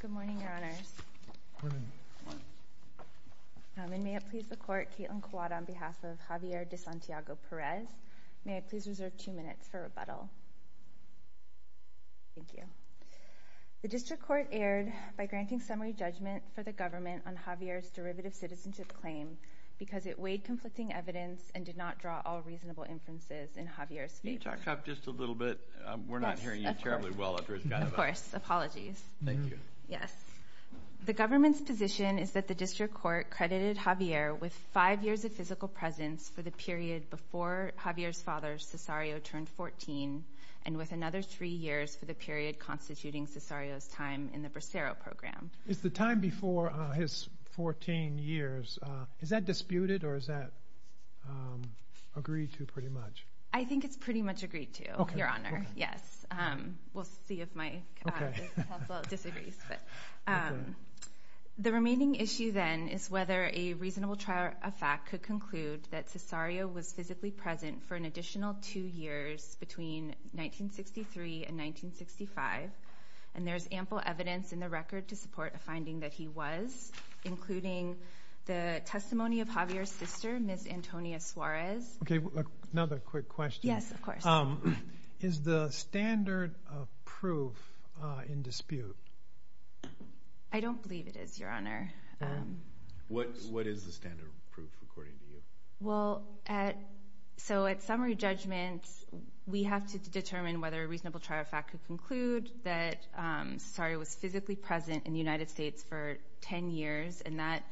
Good morning, Your Honors. Good morning. Good morning. And may it please the Court, Kaitlin Cuadra on behalf of Javier De Santiago-Perez. May I please reserve two minutes for rebuttal? Thank you. The District Court erred by granting summary judgment for the government on Javier's derivative citizenship claim because it weighed conflicting evidence and did not draw all reasonable inferences in Javier's favor. Can you interrupt just a little bit? Yes, of course. We're not hearing you terribly well after he's gone about it. Of course. Apologies. Thank you. Yes. The government's position is that the District Court credited Javier with five years of physical presence for the period before Javier's father, Cesario, turned 14 and with another three years for the period constituting Cesario's time in the Bracero Program. It's the time before his 14 years. Is that disputed or is that agreed to pretty much? I think it's pretty much agreed to, Your Honor. Okay. Okay. Yes. We'll see if my counsel disagrees. Okay. The remaining issue then is whether a reasonable trial of fact could conclude that Cesario was physically present for an additional two years between 1963 and 1965, and there is ample evidence in the record to support a finding that he was, including the testimony of Javier's sister, Ms. Antonia Suarez. Okay. Another quick question. Yes, of course. Is the standard of proof in dispute? I don't believe it is, Your Honor. What is the standard of proof, according to you? Well, so at summary judgment, we have to determine whether a reasonable trial of fact could conclude that Cesario was physically present in the United States for 10 years and that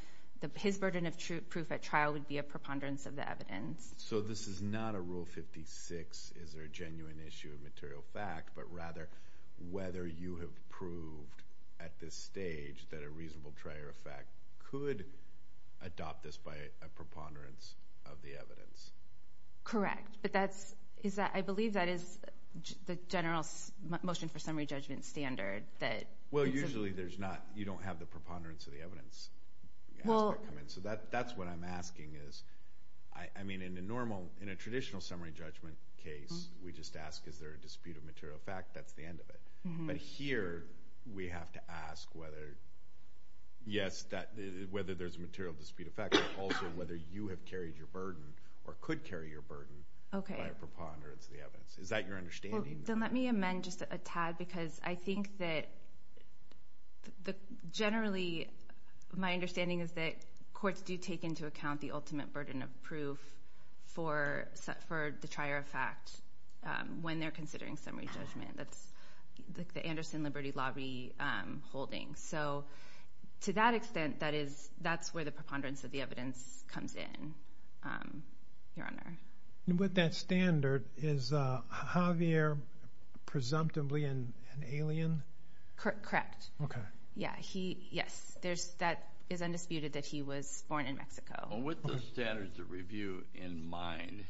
his burden of proof at trial would be a preponderance of the evidence. So this is not a Rule 56, is there a genuine issue of material fact, but rather whether you have proved at this stage that a reasonable trial of fact could adopt this by a preponderance of the evidence. Correct. But I believe that is the general motion for summary judgment standard. Well, usually you don't have the preponderance of the evidence aspect come in. So that's what I'm asking is, I mean, in a normal, in a traditional summary judgment case, we just ask, is there a dispute of material fact? That's the end of it. But here we have to ask whether, yes, whether there's a material dispute of fact, but also whether you have carried your burden or could carry your burden by a preponderance of the evidence. Is that your understanding? Then let me amend just a tad because I think that generally my understanding is that courts do take into account the ultimate burden of proof for the trier of fact when they're considering summary judgment. That's the Anderson Liberty Law holding. So to that extent, that's where the preponderance of the evidence comes in, Your Honor. With that standard, is Javier presumptively an alien? Correct. Okay. Yes, that is undisputed that he was born in Mexico. With the standards of review in mind,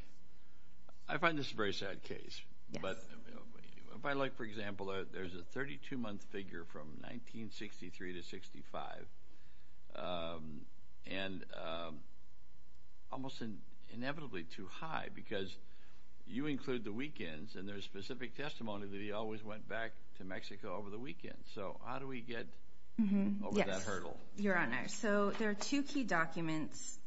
I find this a very sad case. But if I like, for example, there's a 32-month figure from 1963 to 1965 and almost inevitably too high because you include the weekends and there's specific testimony that he always went back to Mexico over the weekends. So how do we get over that hurdle? Yes, Your Honor. So there are two key documents.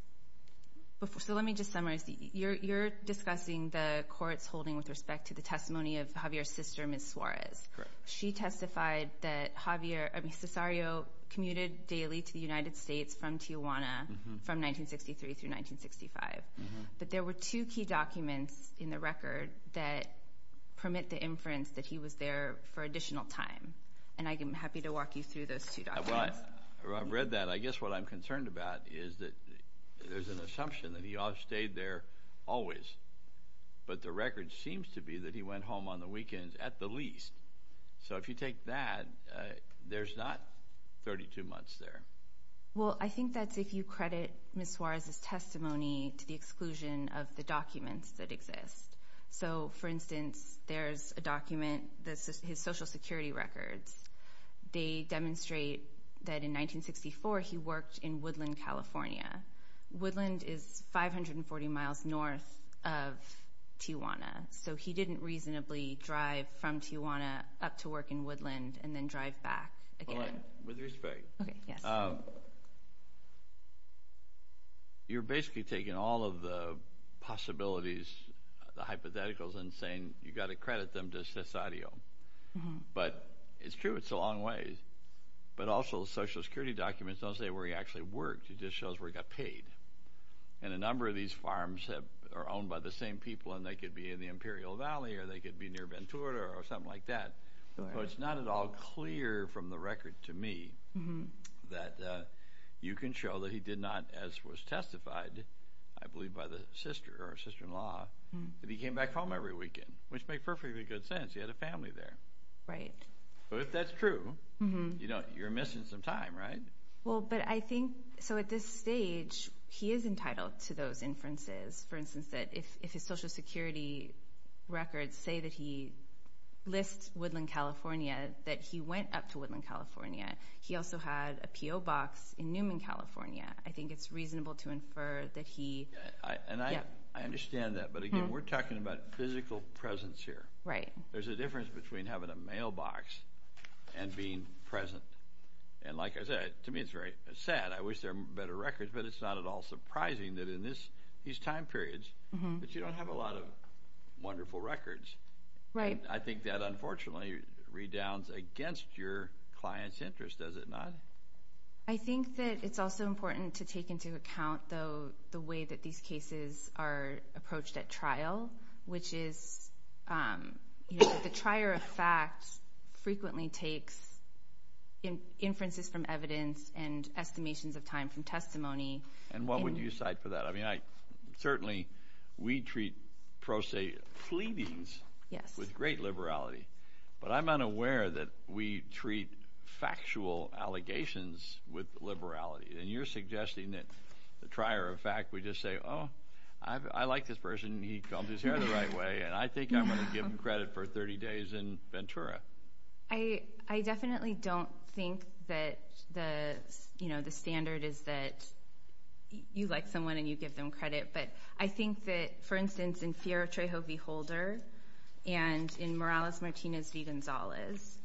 So let me just summarize. You're discussing the court's holding with respect to the testimony of Javier's sister, Ms. Suarez. Correct. She testified that Javier, I mean, Cesario commuted daily to the United States from Tijuana from 1963 through 1965. But there were two key documents in the record that permit the inference that he was there for additional time. And I am happy to walk you through those two documents. Well, I've read that. I guess what I'm concerned about is that there's an assumption that he stayed there always. But the record seems to be that he went home on the weekends at the least. So if you take that, there's not 32 months there. Well, I think that's if you credit Ms. Suarez's testimony to the exclusion of the documents that exist. So, for instance, there's a document, his Social Security records. They demonstrate that in 1964 he worked in Woodland, California. Woodland is 540 miles north of Tijuana. So he didn't reasonably drive from Tijuana up to work in Woodland and then drive back again. Hold on. With respect. Okay, yes. You're basically taking all of the possibilities, the hypotheticals, and saying you've got to credit them to Cesario. But it's true it's a long way. But also the Social Security documents don't say where he actually worked. It just shows where he got paid. And a number of these farms are owned by the same people, and they could be in the Imperial Valley or they could be near Ventura or something like that. So it's not at all clear from the record to me that you can show that he did not, as was testified, I believe, by the sister or sister-in-law, that he came back home every weekend, which makes perfectly good sense. He had a family there. Right. So if that's true, you're missing some time, right? Well, but I think so at this stage he is entitled to those inferences. For instance, that if his Social Security records say that he lists Woodland, California, that he went up to Woodland, California. He also had a P.O. box in Newman, California. I think it's reasonable to infer that he – And I understand that. But, again, we're talking about physical presence here. Right. There's a difference between having a mailbox and being present. And like I said, to me it's very sad. I wish there were better records, but it's not at all surprising that in these time periods that you don't have a lot of wonderful records. Right. I think that, unfortunately, redowns against your client's interest, does it not? I think that it's also important to take into account, though, the way that these cases are approached at trial, which is the trier of facts frequently takes inferences from evidence and estimations of time from testimony. And what would you cite for that? I mean, certainly we treat pro se fleetings with great liberality. But I'm unaware that we treat factual allegations with liberality. And you're suggesting that the trier of fact, we just say, oh, I like this person, he combed his hair the right way, and I think I'm going to give him credit for 30 days in Ventura. I definitely don't think that the standard is that you like someone and you give them credit. But I think that, for instance, in Fierro-Trejo v. Holder and in Morales-Martinez v. Gonzalez,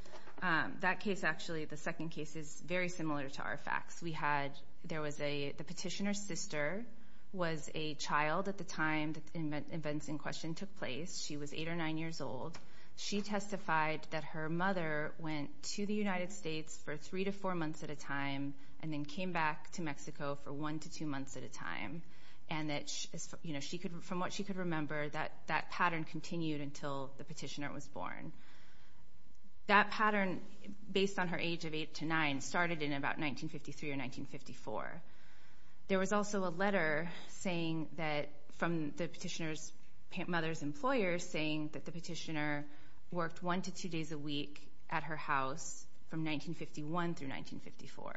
that case actually, the second case, is very similar to our facts. We had, there was a, the petitioner's sister was a child at the time that the events in question took place. She was 8 or 9 years old. She testified that her mother went to the United States for 3 to 4 months at a time and then came back to Mexico for 1 to 2 months at a time. And that, you know, from what she could remember, that pattern continued until the petitioner was born. That pattern, based on her age of 8 to 9, started in about 1953 or 1954. There was also a letter saying that, from the petitioner's mother's employer, saying that the petitioner worked 1 to 2 days a week at her house from 1951 through 1954.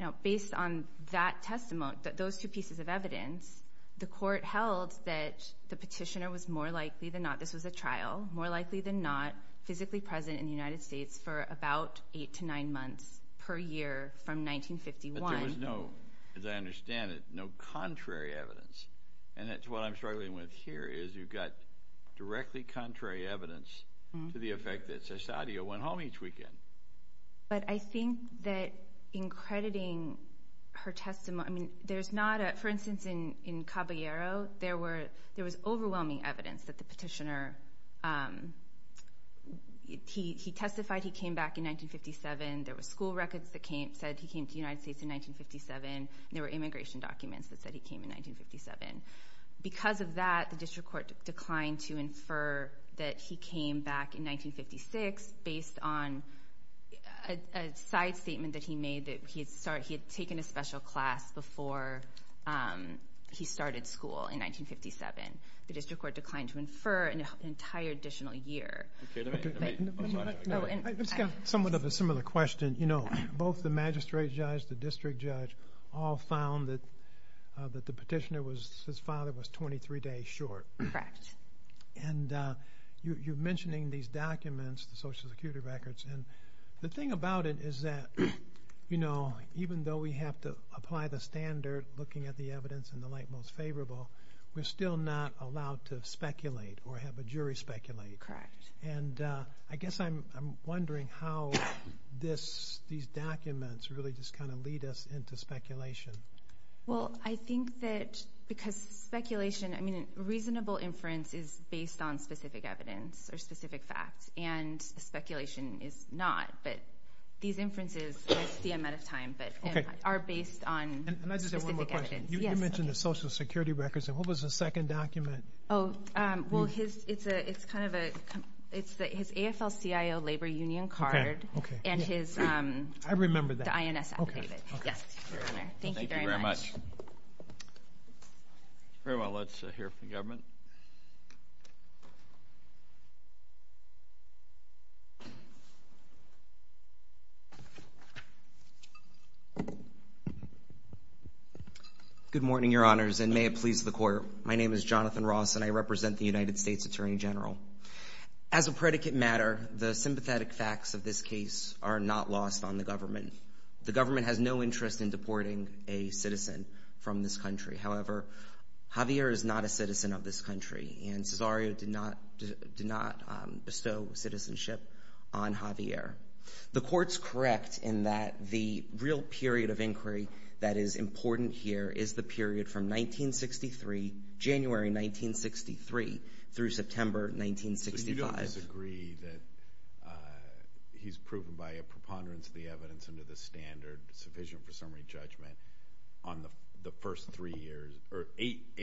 Now, based on that testimony, those two pieces of evidence, the court held that the petitioner was more likely than not, this was a trial, more likely than not, physically present in the United States for about 8 to 9 months per year from 1951. But there was no, as I understand it, no contrary evidence. And that's what I'm struggling with here is you've got directly contrary evidence to the effect that Cesadia went home each weekend. But I think that in crediting her testimony, I mean, there's not a, for instance, in Caballero, there was overwhelming evidence that the petitioner, he testified he came back in 1957. There were school records that said he came to the United States in 1957. There were immigration documents that said he came in 1957. Because of that, the district court declined to infer that he came back in 1956 based on a side statement that he made that he had taken a special class before he started school in 1957. The district court declined to infer an entire additional year. I've got somewhat of a similar question. Both the magistrate judge, the district judge all found that the petitioner was, his father was 23 days short. Correct. And you're mentioning these documents, the social security records, and the thing about it is that, you know, even though we have to apply the standard, looking at the evidence in the light most favorable, we're still not allowed to speculate or have a jury speculate. Correct. And I guess I'm wondering how these documents really just kind of lead us into speculation. Well, I think that because speculation, I mean, reasonable inference is based on specific evidence or specific facts, and speculation is not. But these inferences, we'll see them at a time, but are based on specific evidence. Can I just say one more question? Yes. You mentioned the social security records, and what was the second document? Oh, well, it's kind of a, it's his AFL-CIO labor union card and his. I remember that. The INS affidavit. Okay. Yes, Your Honor. Thank you very much. Thank you very much. Very well. Let's hear from the government. Good morning, Your Honors, and may it please the Court. My name is Jonathan Ross, and I represent the United States Attorney General. As a predicate matter, the sympathetic facts of this case are not lost on the government. The government has no interest in deporting a citizen from this country. However, Javier is not a citizen of this country, and Cesario did not bestow citizenship on Javier. The Court's correct in that the real period of inquiry that is important here is the period from 1963, January 1963, through September 1965. You don't disagree that he's proven by a preponderance of the evidence under the standard sufficient for summary judgment on the first three years, or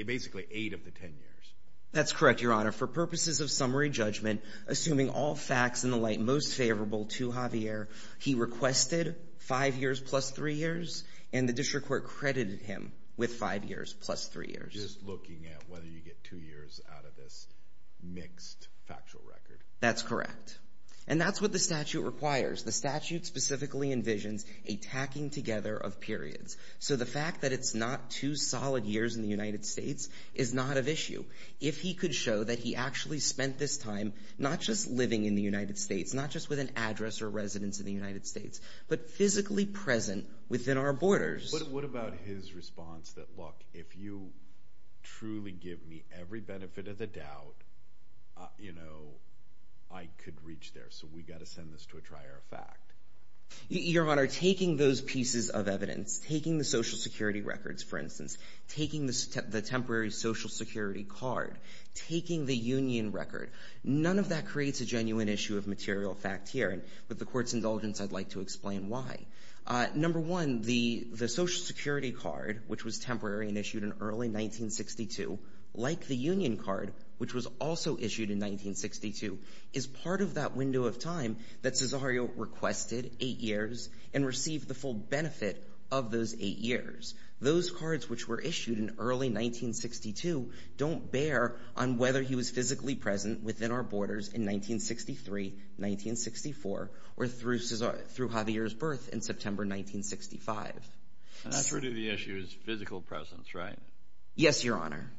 basically eight of the ten years? That's correct, Your Honor. For purposes of summary judgment, assuming all facts in the light most favorable to Javier, he requested five years plus three years, and the district court credited him with five years plus three years. So you're just looking at whether you get two years out of this mixed factual record? That's correct. And that's what the statute requires. The statute specifically envisions a tacking together of periods. So the fact that it's not two solid years in the United States is not of issue. If he could show that he actually spent this time not just living in the United States, not just with an address or residence in the United States, but physically present within our borders. What about his response that, look, if you truly give me every benefit of the doubt, you know, I could reach there, so we've got to send this to a trier of fact? Your Honor, taking those pieces of evidence, taking the Social Security records, for instance, taking the temporary Social Security card, taking the union record, none of that creates a genuine issue of material fact here. And with the court's indulgence, I'd like to explain why. Number one, the Social Security card, which was temporary and issued in early 1962, like the union card, which was also issued in 1962, is part of that window of time that Cesario requested eight years and received the full benefit of those eight years. Those cards, which were issued in early 1962, don't bear on whether he was physically present within our borders in 1963, 1964, or through Javier's birth in September 1965. And that's really the issue is physical presence, right? Yes, Your Honor.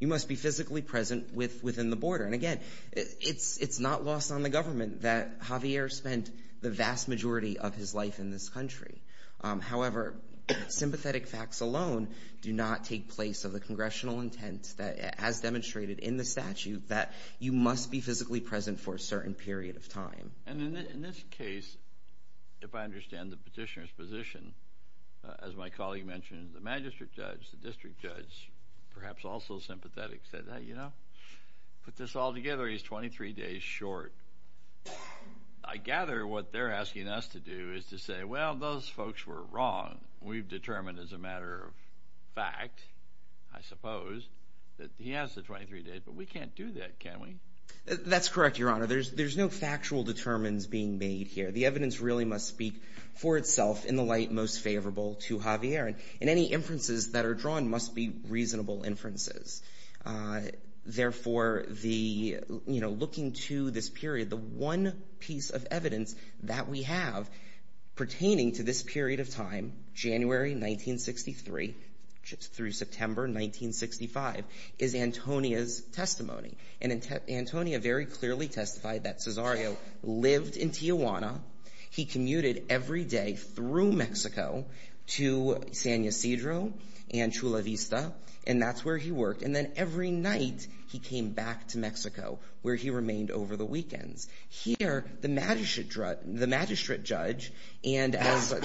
He must be physically present within the border. And again, it's not lost on the government that Javier spent the vast majority of his life in this country. However, sympathetic facts alone do not take place of the congressional intent that, as demonstrated in the statute, that you must be physically present for a certain period of time. And in this case, if I understand the petitioner's position, as my colleague mentioned, the magistrate judge, the district judge, perhaps also sympathetic, said, you know, put this all together, he's 23 days short. I gather what they're asking us to do is to say, well, those folks were wrong. We've determined as a matter of fact, I suppose, that he has the 23 days, but we can't do that, can we? That's correct, Your Honor. There's no factual determinants being made here. The evidence really must speak for itself in the light most favorable to Javier. And any inferences that are drawn must be reasonable inferences. Therefore, looking to this period, the one piece of evidence that we have pertaining to this period of time, January 1963 through September 1965, is Antonia's testimony. And Antonia very clearly testified that Cesario lived in Tijuana. He commuted every day through Mexico to San Ysidro and Chula Vista, and that's where he worked. And then every night, he came back to Mexico, where he remained over the weekends. Here, the magistrate judge, and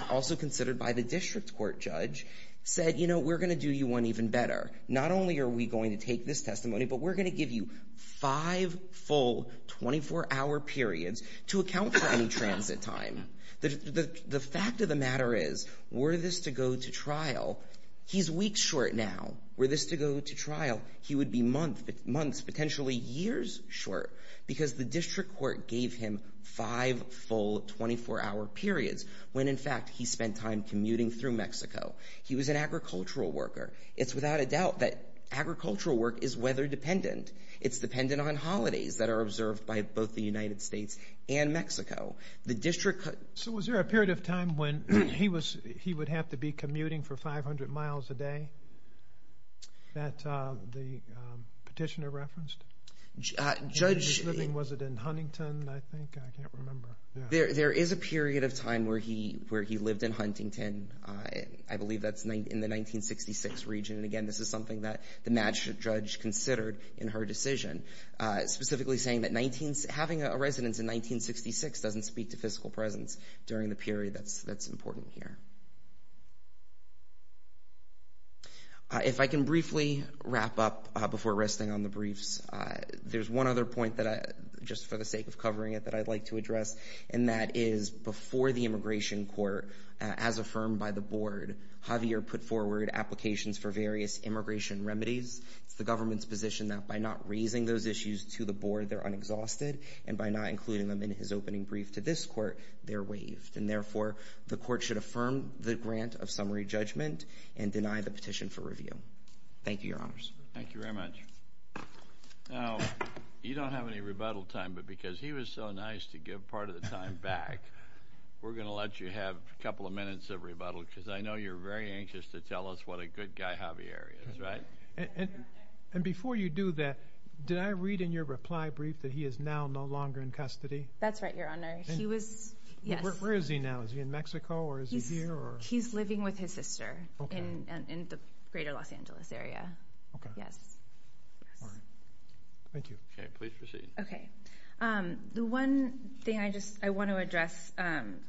also considered by the district court judge, said, you know, we're going to do you one even better. Not only are we going to take this testimony, but we're going to give you five full 24-hour periods to account for any transit time. The fact of the matter is, were this to go to trial, he's weeks short now. Were this to go to trial, he would be months, potentially years short, because the district court gave him five full 24-hour periods, when, in fact, he spent time commuting through Mexico. He was an agricultural worker. It's without a doubt that agricultural work is weather-dependent. It's dependent on holidays that are observed by both the United States and Mexico. The district court... So was there a period of time when he would have to be commuting for 500 miles a day that the petitioner referenced? Judge... Was it in Huntington, I think? I can't remember. There is a period of time where he lived in Huntington. I believe that's in the 1966 region, and, again, this is something that the magistrate judge considered in her decision, specifically saying that having a residence in 1966 doesn't speak to fiscal presence during the period that's important here. If I can briefly wrap up before resting on the briefs, there's one other point, just for the sake of covering it, that I'd like to address, and that is before the immigration court, as affirmed by the board, Javier put forward applications for various immigration remedies. It's the government's position that by not raising those issues to the board, they're unexhausted, and by not including them in his opening brief to this court, they're waived, and, therefore, the court should affirm the grant of summary judgment and deny the petition for review. Thank you, Your Honors. Thank you very much. Now, you don't have any rebuttal time, but because he was so nice to give part of the time back, we're going to let you have a couple of minutes of rebuttal because I know you're very anxious to tell us what a good guy Javier is, right? And before you do that, did I read in your reply brief that he is now no longer in custody? That's right, Your Honor. He was, yes. Where is he now? Is he in Mexico, or is he here, or? He's living with his sister in the greater Los Angeles area. Okay. Yes. All right. Thank you. Okay, please proceed. Okay. The one thing I want to address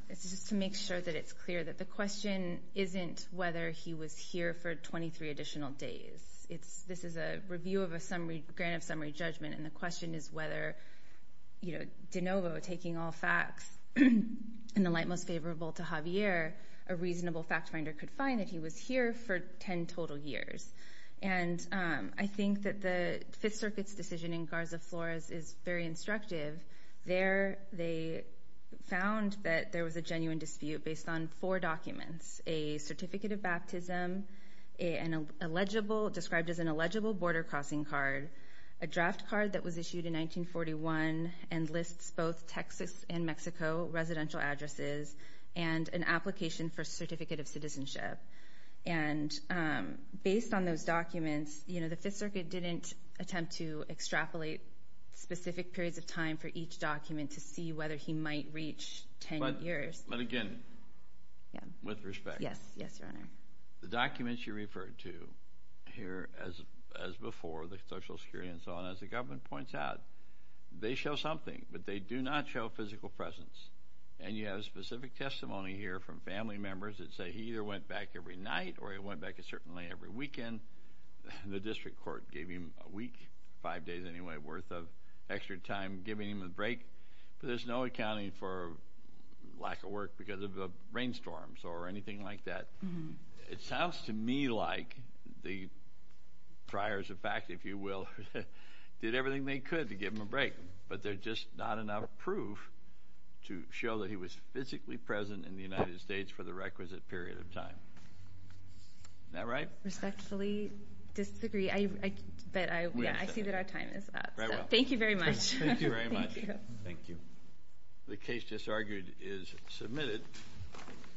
is just to make sure that it's clear that the question isn't whether he was here for 23 additional days. This is a review of a grant of summary judgment, and the question is whether de novo, taking all facts in the light most favorable to Javier, a reasonable fact finder could find that he was here for 10 total years. And I think that the Fifth Circuit's decision in Garza Flores is very instructive. There they found that there was a genuine dispute based on four documents, a certificate of baptism described as an illegible border crossing card, a draft card that was issued in 1941 and lists both Texas and Mexico residential addresses, and an application for a certificate of citizenship. And based on those documents, you know, the Fifth Circuit didn't attempt to extrapolate specific periods of time for each document to see whether he might reach 10 years. But again, with respect. Yes, Your Honor. The documents you referred to here, as before, the Social Security and so on, as the government points out, they show something, but they do not show physical presence. And you have a specific testimony here from family members that say he either went back every night or he went back certainly every weekend. The district court gave him a week, five days anyway, worth of extra time giving him a break. But there's no accounting for lack of work because of the rainstorms or anything like that. It sounds to me like the priors, in fact, if you will, did everything they could to give him a break. But there's just not enough proof to show that he was physically present in the United States for the requisite period of time. Isn't that right? Respectfully disagree. I see that our time is up. Thank you very much. Thank you very much. Thank you. The case disargued is submitted.